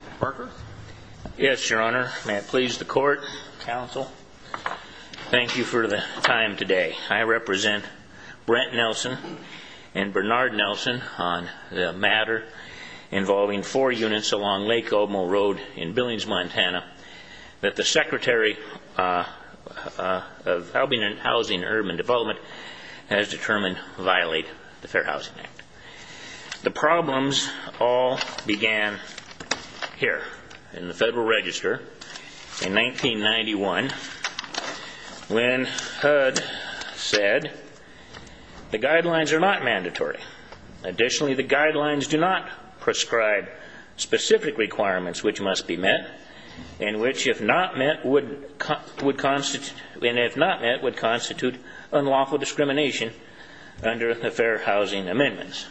Thank you for the time today. I represent Brent Nelson and Bernard Nelson on the matter involving four units along Lake Omo Road in Billings, Montana, that the Secretary of Housing, Urban Development has determined violate the Fair Housing Act. The problems all began here in the Federal Register in 1991 when HUD said the guidelines are not mandatory. Additionally, the guidelines do not prescribe specific requirements which must be met and which, if not met, would constitute unlawful discrimination under the Fair Housing Amendment.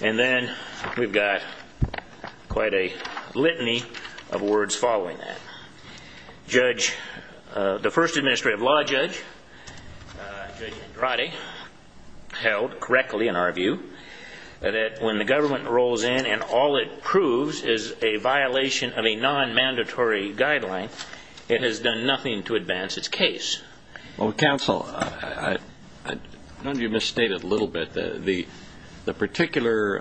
And then we've got quite a litany of words following that. The first Administrative Law Judge, Judge Andrade, held correctly in our view that when the government rolls in and all it proves is a violation of a non-mandatory guideline, it has done nothing to advance its case. Well, Counsel, don't you misstate it a little bit? The particular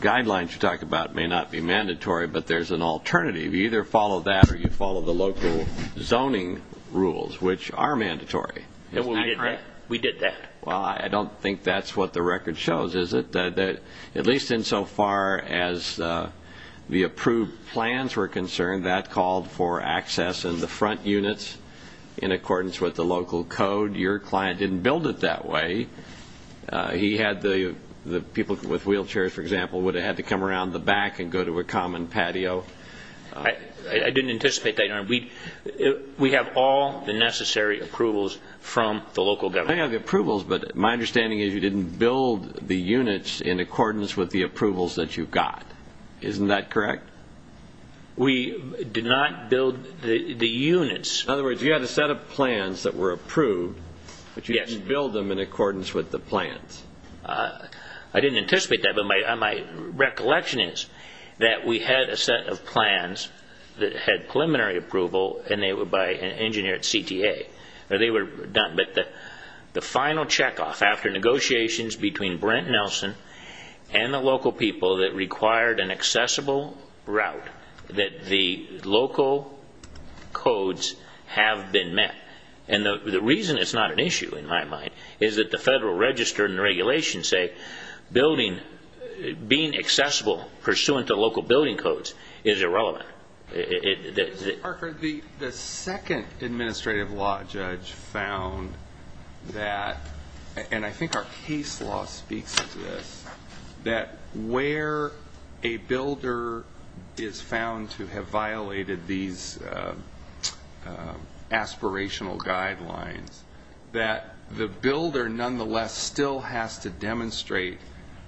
guidelines you talk about may not be mandatory, but there's an alternative. You either follow that or you follow the local zoning rules, which are mandatory. We did that. Well, I don't think that's what the record shows, is it? At least insofar as the approved plans were concerned, that called for access in the front units in accordance with the local code. Your client didn't build it that way. He had the people with wheelchairs, for example, would have had to come around the back and go to a common patio. I didn't anticipate that, Your Honor. We have all the necessary approvals from the local government. I have the approvals, but my understanding is you didn't build the units in accordance with the approvals that you got. Isn't that correct? We did not build the units. In other words, you had a set of plans that were approved, but you didn't build them in accordance with the plans. I didn't anticipate that, but my recollection is that we had a set of plans that had preliminary approval, and they were by an engineer at CTA. The final checkoff, after negotiations between Brent Nelson and the local people that required an accessible route, that the local codes have been met. The reason it's not an issue, in my mind, is that the federal register and regulations say being accessible pursuant to local building codes is irrelevant. Mr. Parker, the second administrative law judge found that, and I think our case law speaks to this, that where a builder is found to have violated these aspirational guidelines, that the builder nonetheless still has to demonstrate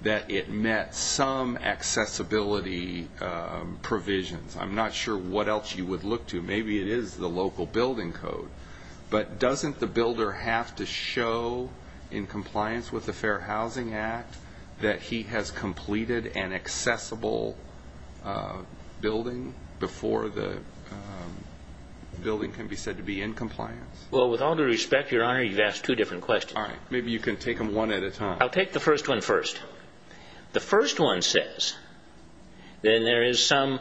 that it met some accessibility provisions. I'm not sure what else you would look to. Maybe it is the local building code, but doesn't the builder have to show in compliance with the Fair Housing Act that he has completed an accessible building before the building can be said to be in compliance? Well, with all due respect, Your Honor, you've asked two different questions. All right. Maybe you can take them one at a time. I'll take the first one first. The first one says that there is some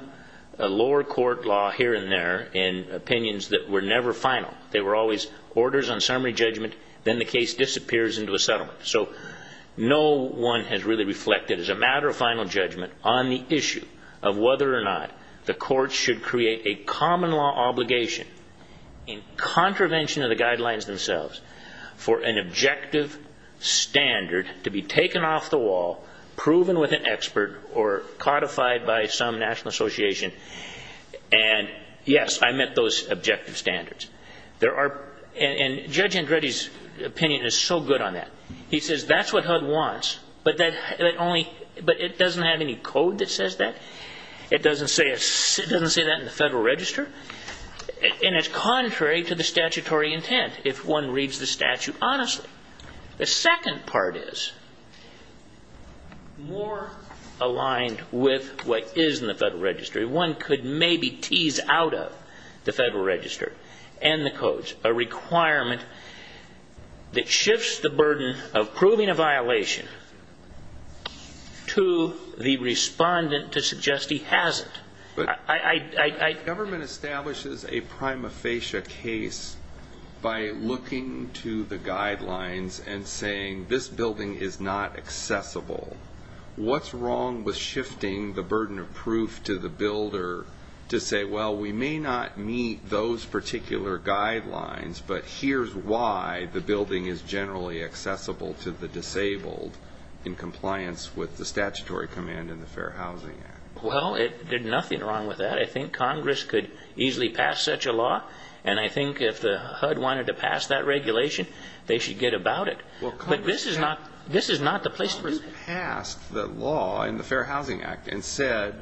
lower court law here and there in opinions that were never final. They were always orders on summary judgment, then the case disappears into a settlement. So no one has really reflected, as a matter of final judgment, on the issue of whether or not the courts should create a common law obligation in contravention of the guidelines themselves for an objective standard to be taken off the wall, proven with an expert, or codified by some national association. And, yes, I met those objective standards. And Judge Andretti's opinion is so good on that. He says that's what HUD wants, but it doesn't have any code that says that. It doesn't say that in the Federal Register. And it's contrary to the statutory intent if one reads the statute honestly. The second part is more aligned with what is in the Federal Register. One could maybe tease out of the Federal Register and the codes a requirement that shifts the burden of proving a violation to the respondent to suggest he hasn't. The government establishes a prima facie case by looking to the guidelines and saying this building is not accessible. What's wrong with shifting the burden of proof to the builder to say, well, we may not meet those particular guidelines, but here's why the building is generally accessible to the disabled in compliance with the statutory command in the Fair Housing Act? Well, there's nothing wrong with that. I think Congress could easily pass such a law. And I think if the HUD wanted to pass that regulation, they should get about it. But this is not the place to do that. Congress passed the law in the Fair Housing Act and said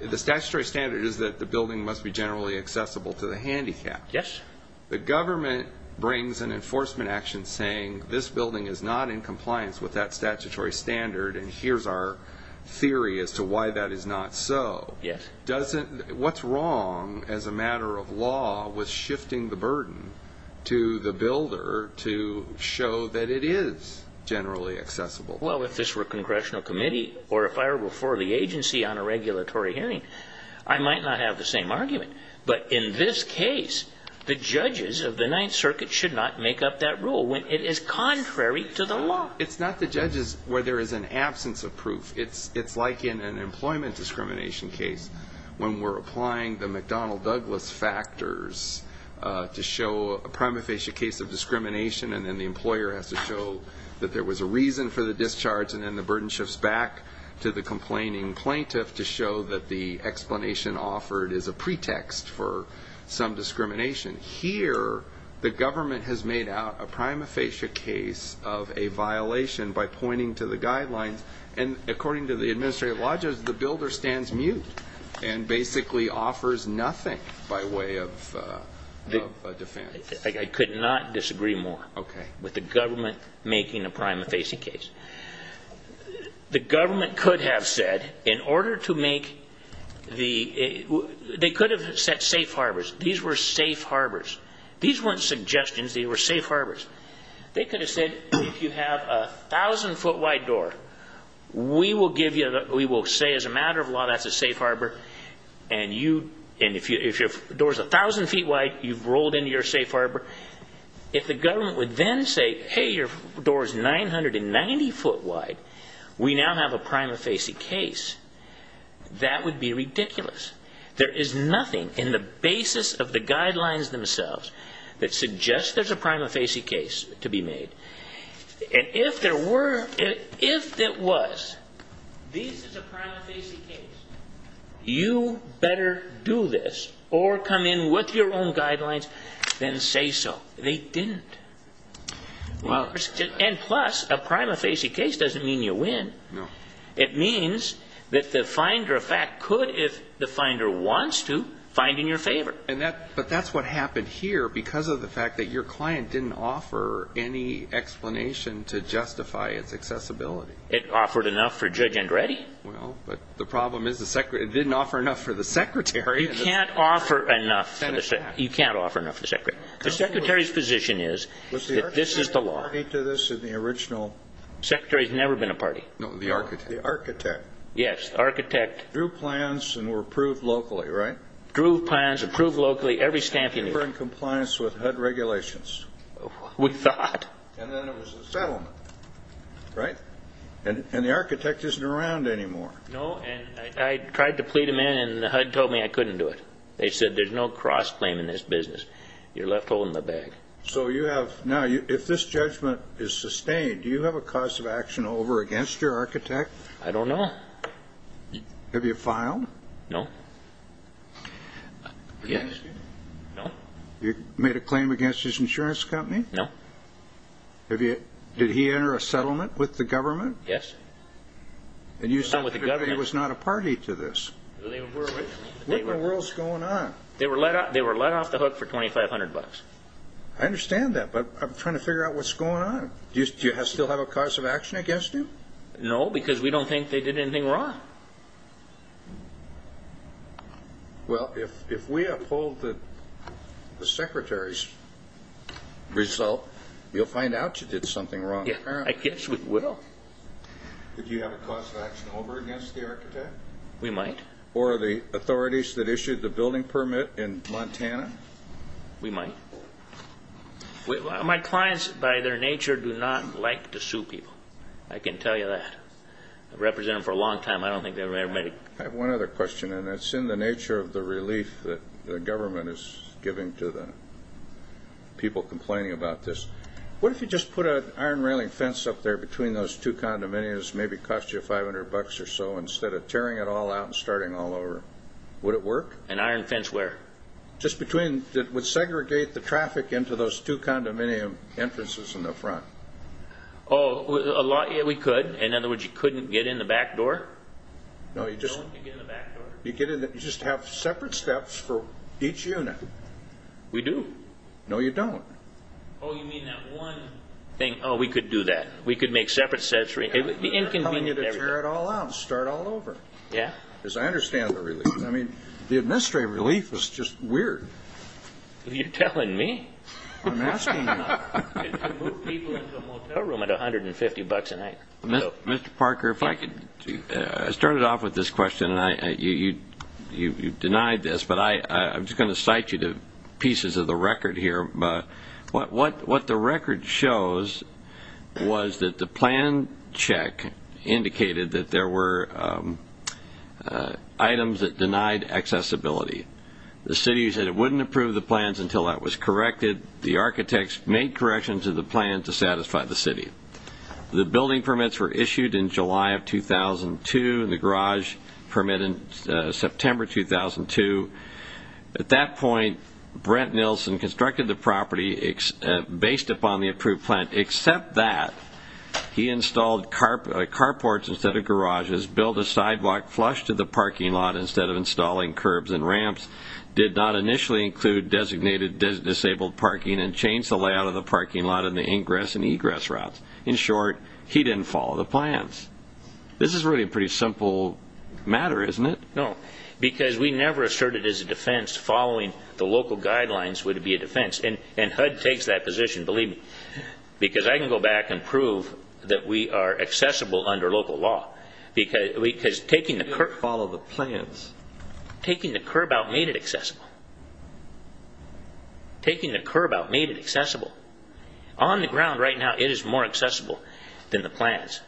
the statutory standard is that the building must be generally accessible to the handicapped. Yes. The government brings an enforcement action saying this building is not in compliance with that statutory standard and here's our theory as to why that is not so. Yes. What's wrong as a matter of law with shifting the burden to the builder to show that it is generally accessible? Well, if this were a congressional committee or if I were before the agency on a regulatory hearing, I might not have the same argument. But in this case, the judges of the Ninth Circuit should not make up that rule when it is contrary to the law. It's not the judges where there is an absence of proof. It's like in an employment discrimination case. When we're applying the McDonnell-Douglas factors to show a prima facie case of discrimination and then the employer has to show that there was a reason for the discharge and then the burden shifts back to the complaining plaintiff to show that the explanation offered is a pretext for some discrimination. Here, the government has made out a prima facie case of a violation by pointing to the guidelines. And according to the administrative lodges, the builder stands mute and basically offers nothing by way of a defense. I could not disagree more with the government making a prima facie case. The government could have said in order to make the – they could have set safe harbors. These were safe harbors. These weren't suggestions. They were safe harbors. They could have said if you have a 1,000-foot-wide door, we will say as a matter of law that's a safe harbor. And if your door is 1,000 feet wide, you've rolled into your safe harbor. If the government would then say, hey, your door is 990 foot wide, we now have a prima facie case, that would be ridiculous. There is nothing in the basis of the guidelines themselves that suggests there's a prima facie case to be made. And if there were – if there was, this is a prima facie case, you better do this or come in with your own guidelines than say so. They didn't. And plus, a prima facie case doesn't mean you win. No. It means that the finder of fact could, if the finder wants to, find in your favor. And that – but that's what happened here because of the fact that your client didn't offer any explanation to justify its accessibility. It offered enough for Judge Andretti. Well, but the problem is the – it didn't offer enough for the secretary. You can't offer enough for the – you can't offer enough for the secretary. The secretary's position is that this is the law. Was the architect a party to this in the original? The secretary has never been a party. No, the architect. The architect. Yes, the architect. Drew plans and were approved locally, right? Drew plans, approved locally, every stamp you need. And were in compliance with HUD regulations. We thought. And then there was the settlement, right? And the architect isn't around anymore. No, and I tried to plead him in and HUD told me I couldn't do it. They said there's no cross-claim in this business. You're left holding the bag. So you have – now, if this judgment is sustained, do you have a cause of action over against your architect? I don't know. Have you filed? No. Have you asked him? No. You made a claim against his insurance company? No. Have you – did he enter a settlement with the government? Yes. And you said he was not a party to this. They were originally. What in the world is going on? They were let off the hook for $2,500. I understand that, but I'm trying to figure out what's going on. Do you still have a cause of action against him? No, because we don't think they did anything wrong. Well, if we uphold the secretary's result, you'll find out you did something wrong. I guess we will. Did you have a cause of action over against the architect? We might. Or the authorities that issued the building permit in Montana? We might. My clients, by their nature, do not like to sue people. I can tell you that. I've represented them for a long time. I don't think they've ever made a – I have one other question, and it's in the nature of the relief that the government is giving to the people complaining about this. What if you just put an iron railing fence up there between those two condominiums, maybe cost you $500 or so, instead of tearing it all out and starting all over? Would it work? An iron fence where? Just between – it would segregate the traffic into those two condominium entrances in the front. Oh, we could. In other words, you couldn't get in the back door? No, you just have separate steps for each unit. We do. No, you don't. Oh, you mean that one thing? Oh, we could do that. We could make separate steps. It would be inconvenient. I'm not telling you to tear it all out and start all over. Yeah? Because I understand the relief. I mean, the administrative relief was just weird. You're telling me. I'm asking you. You move people into a motel room at $150 a night. Mr. Parker, if I could – I started off with this question, and you denied this, but I'm just going to cite you to pieces of the record here. What the record shows was that the plan check indicated that there were items that denied accessibility. The city said it wouldn't approve the plans until that was corrected. The architects made corrections to the plan to satisfy the city. The building permits were issued in July of 2002, and the garage permit in September 2002. At that point, Brent Nilsen constructed the property based upon the approved plan. Except that he installed carports instead of garages, built a sidewalk flush to the parking lot instead of installing curbs and ramps, did not initially include designated disabled parking, and changed the layout of the parking lot and the ingress and egress routes. In short, he didn't follow the plans. This is really a pretty simple matter, isn't it? No, because we never asserted as a defense following the local guidelines would be a defense. And HUD takes that position, believe me, because I can go back and prove that we are accessible under local law. Because taking the curb out made it accessible. Taking the curb out made it accessible. On the ground right now, it is more accessible than the plans.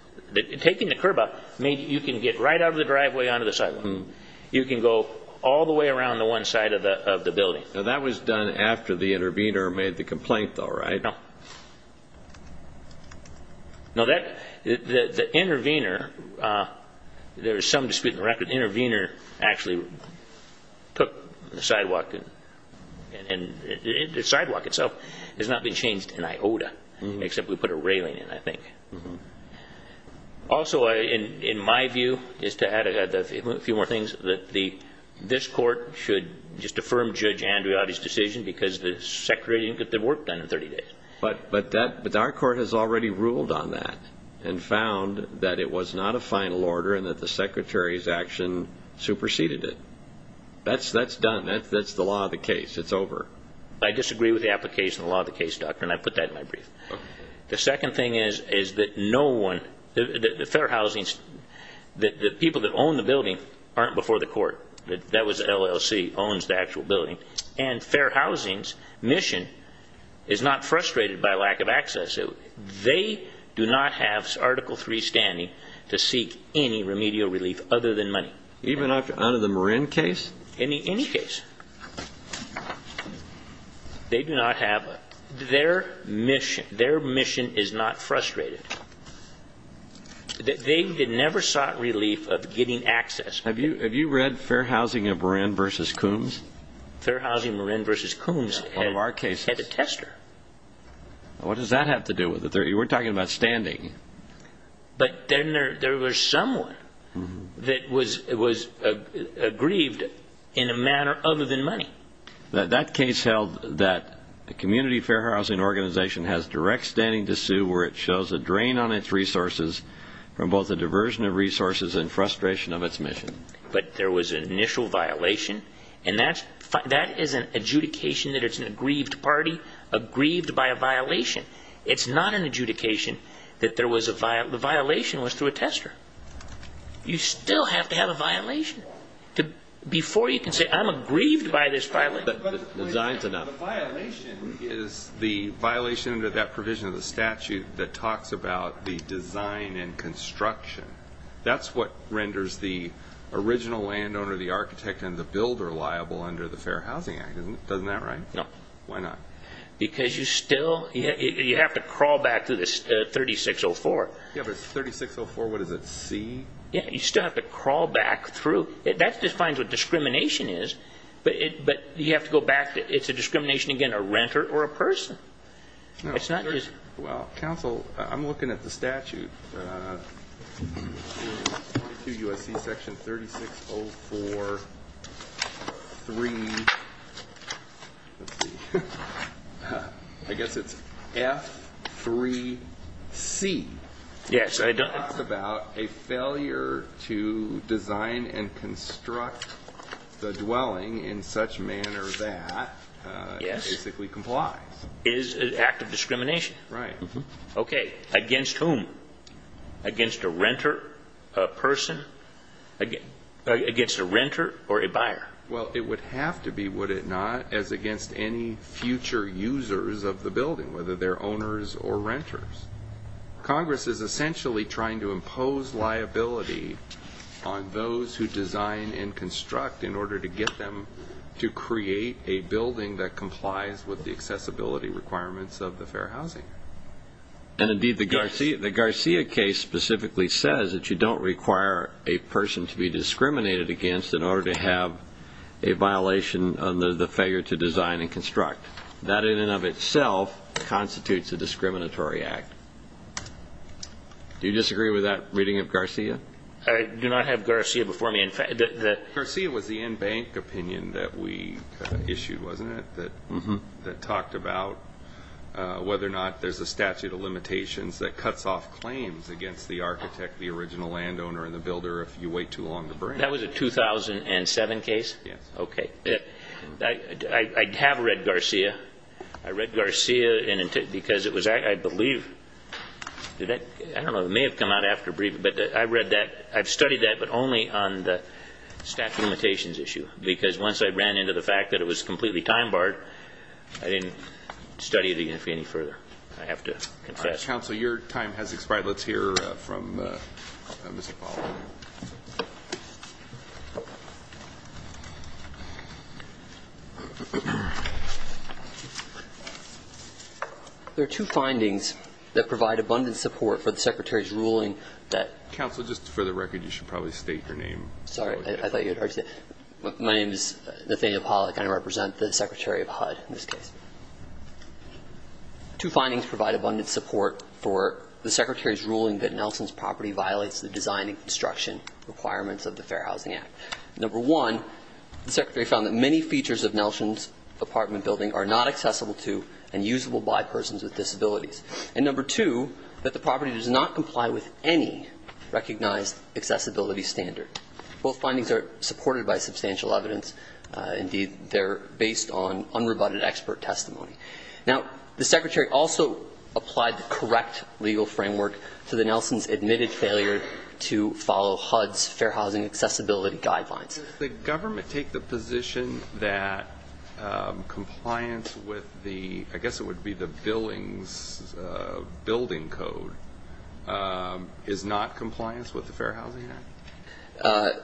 Taking the curb out, you can get right out of the driveway onto the sidewalk. You can go all the way around to one side of the building. That was done after the intervener made the complaint, though, right? No. The intervener, there is some dispute in the record, the intervener actually took the sidewalk, and the sidewalk itself has not been changed an iota, except we put a railing in, I think. Also, in my view, just to add a few more things, this court should just affirm Judge Andreotti's decision because the Secretary didn't get the work done in 30 days. But our court has already ruled on that and found that it was not a final order and that the Secretary's action superseded it. That's done. That's the law of the case. It's over. I disagree with the application of the law of the case, Doctor, and I put that in my brief. The second thing is that no one, the Fair Housing, the people that own the building aren't before the court. That was LLC, owns the actual building. And Fair Housing's mission is not frustrated by lack of access. They do not have Article III standing to seek any remedial relief other than money. Even under the Marin case? Any case. They do not have a – their mission is not frustrated. They never sought relief of getting access. Have you read Fair Housing of Marin v. Coombs? Fair Housing of Marin v. Coombs had a tester. What does that have to do with it? You weren't talking about standing. But then there was someone that was aggrieved in a manner other than money. That case held that a community fair housing organization has direct standing to sue where it shows a drain on its resources from both a diversion of resources and frustration of its mission. But there was an initial violation, and that is an adjudication that it's an aggrieved party, aggrieved by a violation. It's not an adjudication that there was a – the violation was through a tester. You still have to have a violation. Before you can say, I'm aggrieved by this violation. The violation is the violation under that provision of the statute that talks about the design and construction. That's what renders the original landowner, the architect, and the builder liable under the Fair Housing Act. Isn't that right? No. Why not? Because you still – you have to crawl back to this 3604. Yeah, but 3604, what is it, C? Yeah, you still have to crawl back through. That defines what discrimination is, but you have to go back to – it's a discrimination, again, a renter or a person. It's not just – Well, counsel, I'm looking at the statute. 22 U.S.C. Section 3604.3. Let's see. I guess it's F3C. Yes. It talks about a failure to design and construct the dwelling in such manner that it basically complies. It is an act of discrimination. Right. Okay. Against whom? Against a renter, a person – against a renter or a buyer? Well, it would have to be, would it not, as against any future users of the building, whether they're owners or renters. Congress is essentially trying to impose liability on those who design and construct in order to get them to create a building that complies with the accessibility requirements of the Fair Housing Act. And, indeed, the Garcia case specifically says that you don't require a person to be discriminated against in order to have a violation under the failure to design and construct. That in and of itself constitutes a discriminatory act. Do you disagree with that reading of Garcia? I do not have Garcia before me. Garcia was the in-bank opinion that we issued, wasn't it, that talked about whether or not there's a statute of limitations that cuts off claims against the architect, the original landowner, and the builder if you wait too long to bring them. That was a 2007 case? Yes. Okay. I have read Garcia. I read Garcia because it was, I believe – I don't know, it may have come out after – but I read that – I've studied that, but only on the statute of limitations issue because once I ran into the fact that it was completely time-barred, I didn't study it any further. I have to confess. All right. Counsel, your time has expired. Let's hear from Mr. Fowler. There are two findings that provide abundant support for the Secretary's ruling that – Counsel, just for the record, you should probably state your name. Sorry, I thought you had already said it. My name is Nathaniel Pollack, and I represent the Secretary of HUD in this case. Two findings provide abundant support for the Secretary's ruling that Nelson's property violates the design and construction requirements of the Fair Housing Act. Number one, the Secretary found that many features of Nelson's apartment building are not accessible to and usable by persons with disabilities. And number two, that the property does not comply with any recognized accessibility standard. Both findings are supported by substantial evidence. Indeed, they're based on unrebutted expert testimony. Now, the Secretary also applied the correct legal framework to the Nelson's admitted failure to follow HUD's Fair Housing Accessibility Guidelines. Does the government take the position that compliance with the – I guess it would be the building's building code is not compliance with the Fair Housing Act?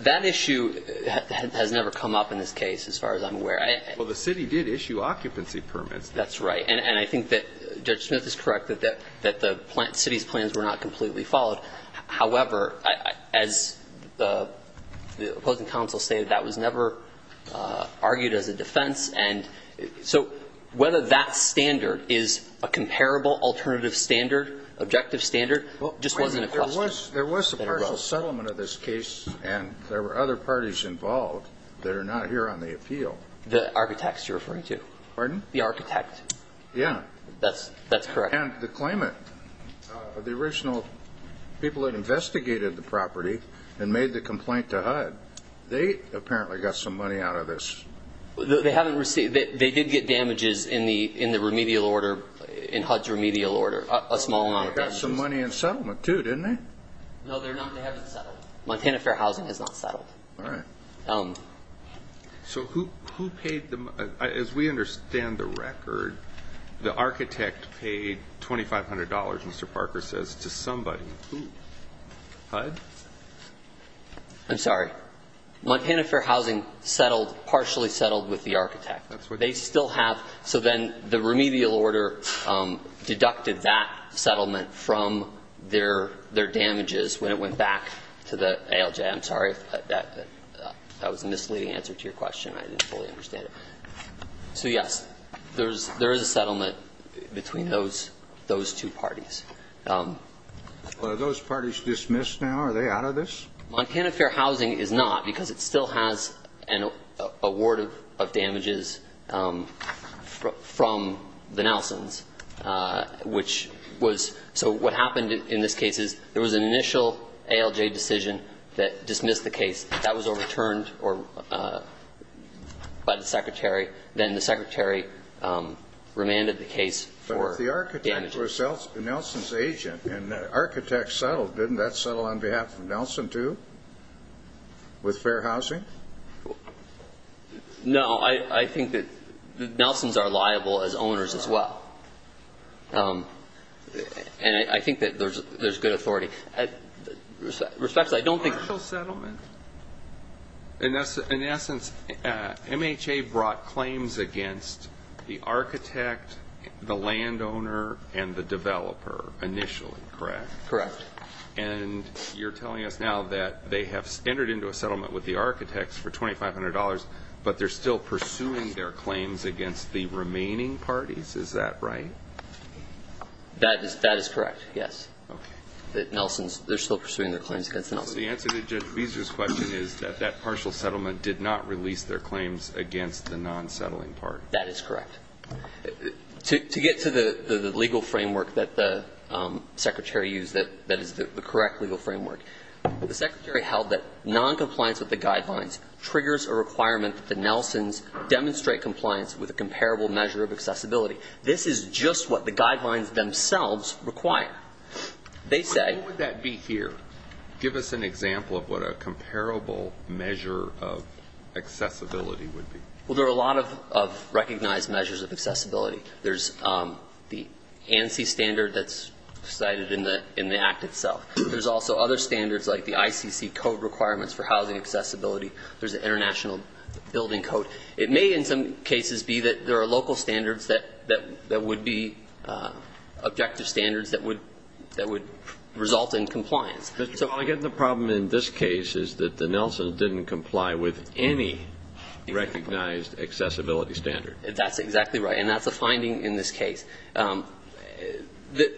That issue has never come up in this case, as far as I'm aware. Well, the city did issue occupancy permits. That's right. And I think that Judge Smith is correct that the city's plans were not completely followed. However, as the opposing counsel stated, that was never argued as a defense. And so whether that standard is a comparable alternative standard, objective standard, just wasn't a question. There was a partial settlement of this case, and there were other parties involved that are not here on the appeal. The architects you're referring to. Pardon? The architect. Yeah. That's correct. And the claimant, the original people that investigated the property and made the complaint to HUD, they apparently got some money out of this. They haven't received – they did get damages in the remedial order, in HUD's remedial order, a small amount of damages. They got some money in settlement, too, didn't they? No, they haven't settled. Montana Fair Housing has not settled. All right. So who paid the – as we understand the record, the architect paid $2,500, Mr. Parker says, to somebody. Who? HUD? I'm sorry. Montana Fair Housing settled – partially settled with the architect. They still have – so then the remedial order deducted that settlement from their damages when it went back to the ALJ. I'm sorry. That was a misleading answer to your question. I didn't fully understand it. So, yes, there is a settlement between those two parties. Are those parties dismissed now? Are they out of this? Montana Fair Housing is not because it still has an award of damages from the Nelsons, which was – so what happened in this case is there was an initial ALJ decision that dismissed the case. That was overturned by the secretary. Then the secretary remanded the case for damages. But if the architect was Nelson's agent and the architect settled, didn't that settle on behalf of Nelson, too, with Fair Housing? No. I think that Nelsons are liable as owners as well. And I think that there's good authority. Respectfully, I don't think – Partial settlement? In essence, MHA brought claims against the architect, the landowner, and the developer initially, correct? Correct. And you're telling us now that they have entered into a settlement with the architects for $2,500, but they're still pursuing their claims against the remaining parties? Is that right? That is correct, yes. Okay. That Nelsons – they're still pursuing their claims against Nelsons. So the answer to Judge Beezer's question is that that partial settlement did not release their claims against the non-settling party. That is correct. To get to the legal framework that the secretary used that is the correct legal framework, the secretary held that noncompliance with the guidelines triggers a requirement that the Nelsons demonstrate compliance with a comparable measure of accessibility. This is just what the guidelines themselves require. They say – What would that be here? Give us an example of what a comparable measure of accessibility would be. Well, there are a lot of recognized measures of accessibility. There's the ANSI standard that's cited in the Act itself. There's also other standards like the ICC code requirements for housing accessibility. There's the International Building Code. It may in some cases be that there are local standards that would be objective standards that would result in compliance. I get the problem in this case is that the Nelsons didn't comply with any recognized accessibility standard. That's exactly right, and that's a finding in this case. The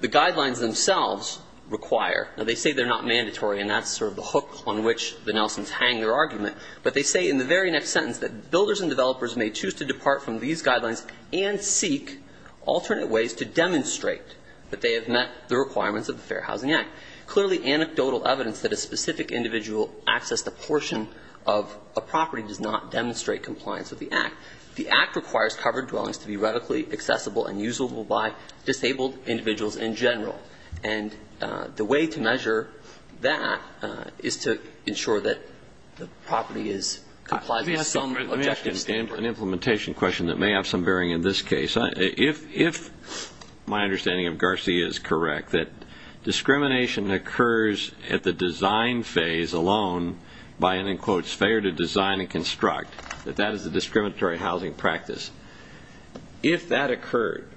guidelines themselves require – now, they say they're not mandatory, and that's sort of the hook on which the Nelsons hang their argument, but they say in the very next sentence that builders and developers may choose to depart from these guidelines and seek alternate ways to demonstrate that they have met the requirements of the Fair Housing Act. Clearly anecdotal evidence that a specific individual accessed a portion of a property does not demonstrate compliance with the Act. The Act requires covered dwellings to be readily accessible and usable by disabled individuals in general, and the way to measure that is to ensure that the property is compliant with some objective standards. Let me ask you an implementation question that may have some bearing in this case. If my understanding of Garcia is correct, that discrimination occurs at the design phase alone by an, in quotes, failure to design and construct, that that is a discriminatory housing practice, if that occurred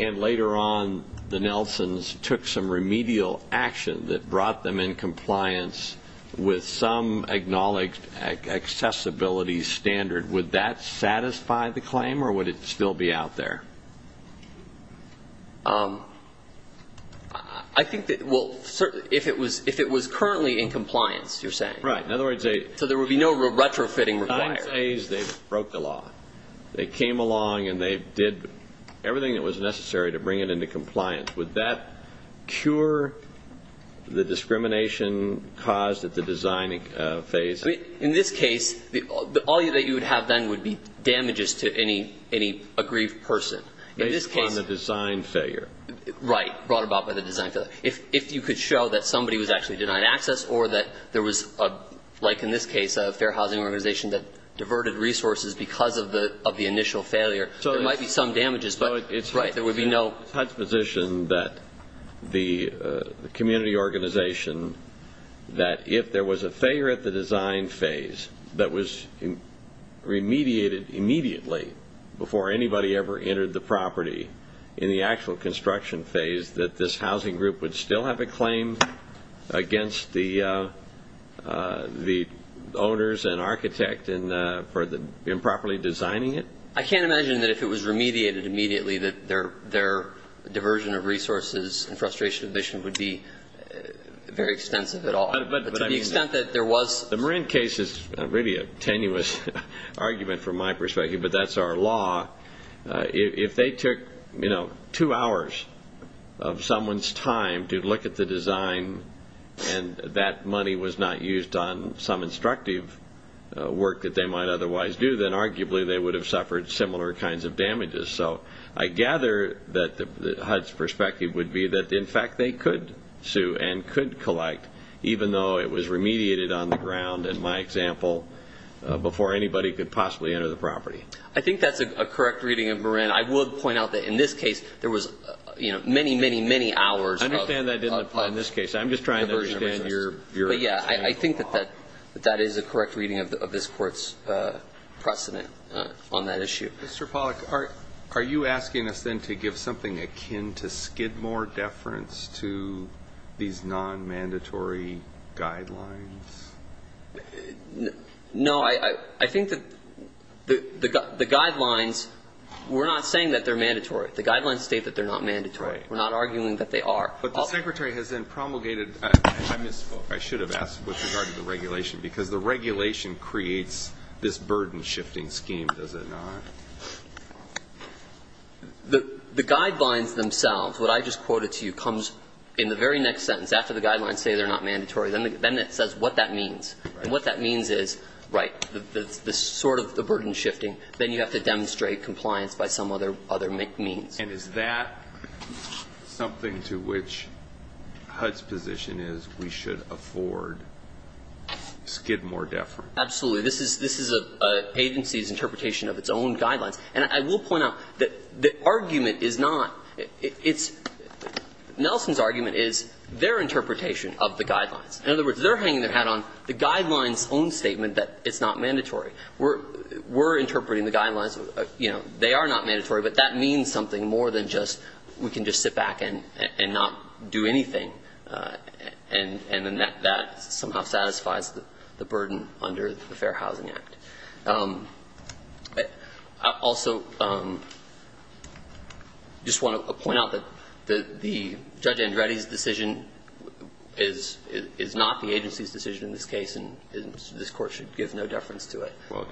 and later on the Nelsons took some remedial action that brought them in compliance with some acknowledged accessibility standard, would that satisfy the claim, or would it still be out there? I think that, well, if it was currently in compliance, you're saying. Right, in other words – So there would be no retrofitting required. At the design phase, they broke the law. They came along and they did everything that was necessary to bring it into compliance. Would that cure the discrimination caused at the design phase? In this case, all that you would have then would be damages to any aggrieved person. Based upon the design failure. Right, brought about by the design failure. If you could show that somebody was actually denied access or that there was, like in this case, a fair housing organization that diverted resources because of the initial failure, there might be some damages, but there would be no – It's HUD's position that the community organization, that if there was a failure at the design phase that was remediated immediately before anybody ever entered the property, in the actual construction phase, that this housing group would still have a claim against the owners and architect for improperly designing it. I can't imagine that if it was remediated immediately, that their diversion of resources and frustration would be very extensive at all. But to the extent that there was – The Marin case is really a tenuous argument from my perspective, but that's our law. If they took two hours of someone's time to look at the design and that money was not used on some instructive work that they might otherwise do, then arguably they would have suffered similar kinds of damages. So I gather that HUD's perspective would be that, in fact, they could sue and could collect, even though it was remediated on the ground, in my example, before anybody could possibly enter the property. I think that's a correct reading of Marin. I would point out that, in this case, there was many, many, many hours of – I understand that didn't apply in this case. I'm just trying to understand your – But, yeah, I think that that is a correct reading of this Court's precedent on that issue. Mr. Pollack, are you asking us then to give something akin to Skidmore deference to these non-mandatory guidelines? No. I think that the guidelines – we're not saying that they're mandatory. The guidelines state that they're not mandatory. Right. We're not arguing that they are. But the Secretary has then promulgated – I misspoke. I should have asked with regard to the regulation, because the regulation creates this burden-shifting scheme, does it not? The guidelines themselves, what I just quoted to you, comes in the very next sentence after the guidelines say they're not mandatory. Then it says what that means. And what that means is, right, the sort of the burden-shifting, then you have to demonstrate compliance by some other means. And is that something to which HUD's position is we should afford Skidmore deference? Absolutely. This is an agency's interpretation of its own guidelines. And I will point out that the argument is not – Nelson's argument is their interpretation of the guidelines. In other words, they're hanging their hat on the guidelines' own statement that it's not mandatory. We're interpreting the guidelines, you know, they are not mandatory, but that means something more than just we can just sit back and not do anything. And then that somehow satisfies the burden under the Fair Housing Act. I also just want to point out that the Judge Andretti's decision is not the agency's decision in this case, and this Court should give no deference to it. Well,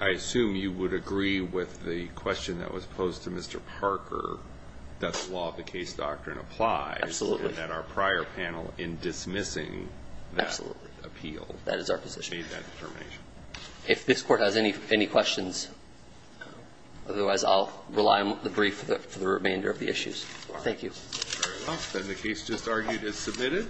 I assume you would agree with the question that was posed to Mr. Parker, does the law of the case doctrine apply? Absolutely. And that our prior panel in dismissing that appeal made that determination. If this Court has any questions, otherwise I'll rely on the brief for the remainder of the issues. Thank you. Very well. Then the case just argued is submitted.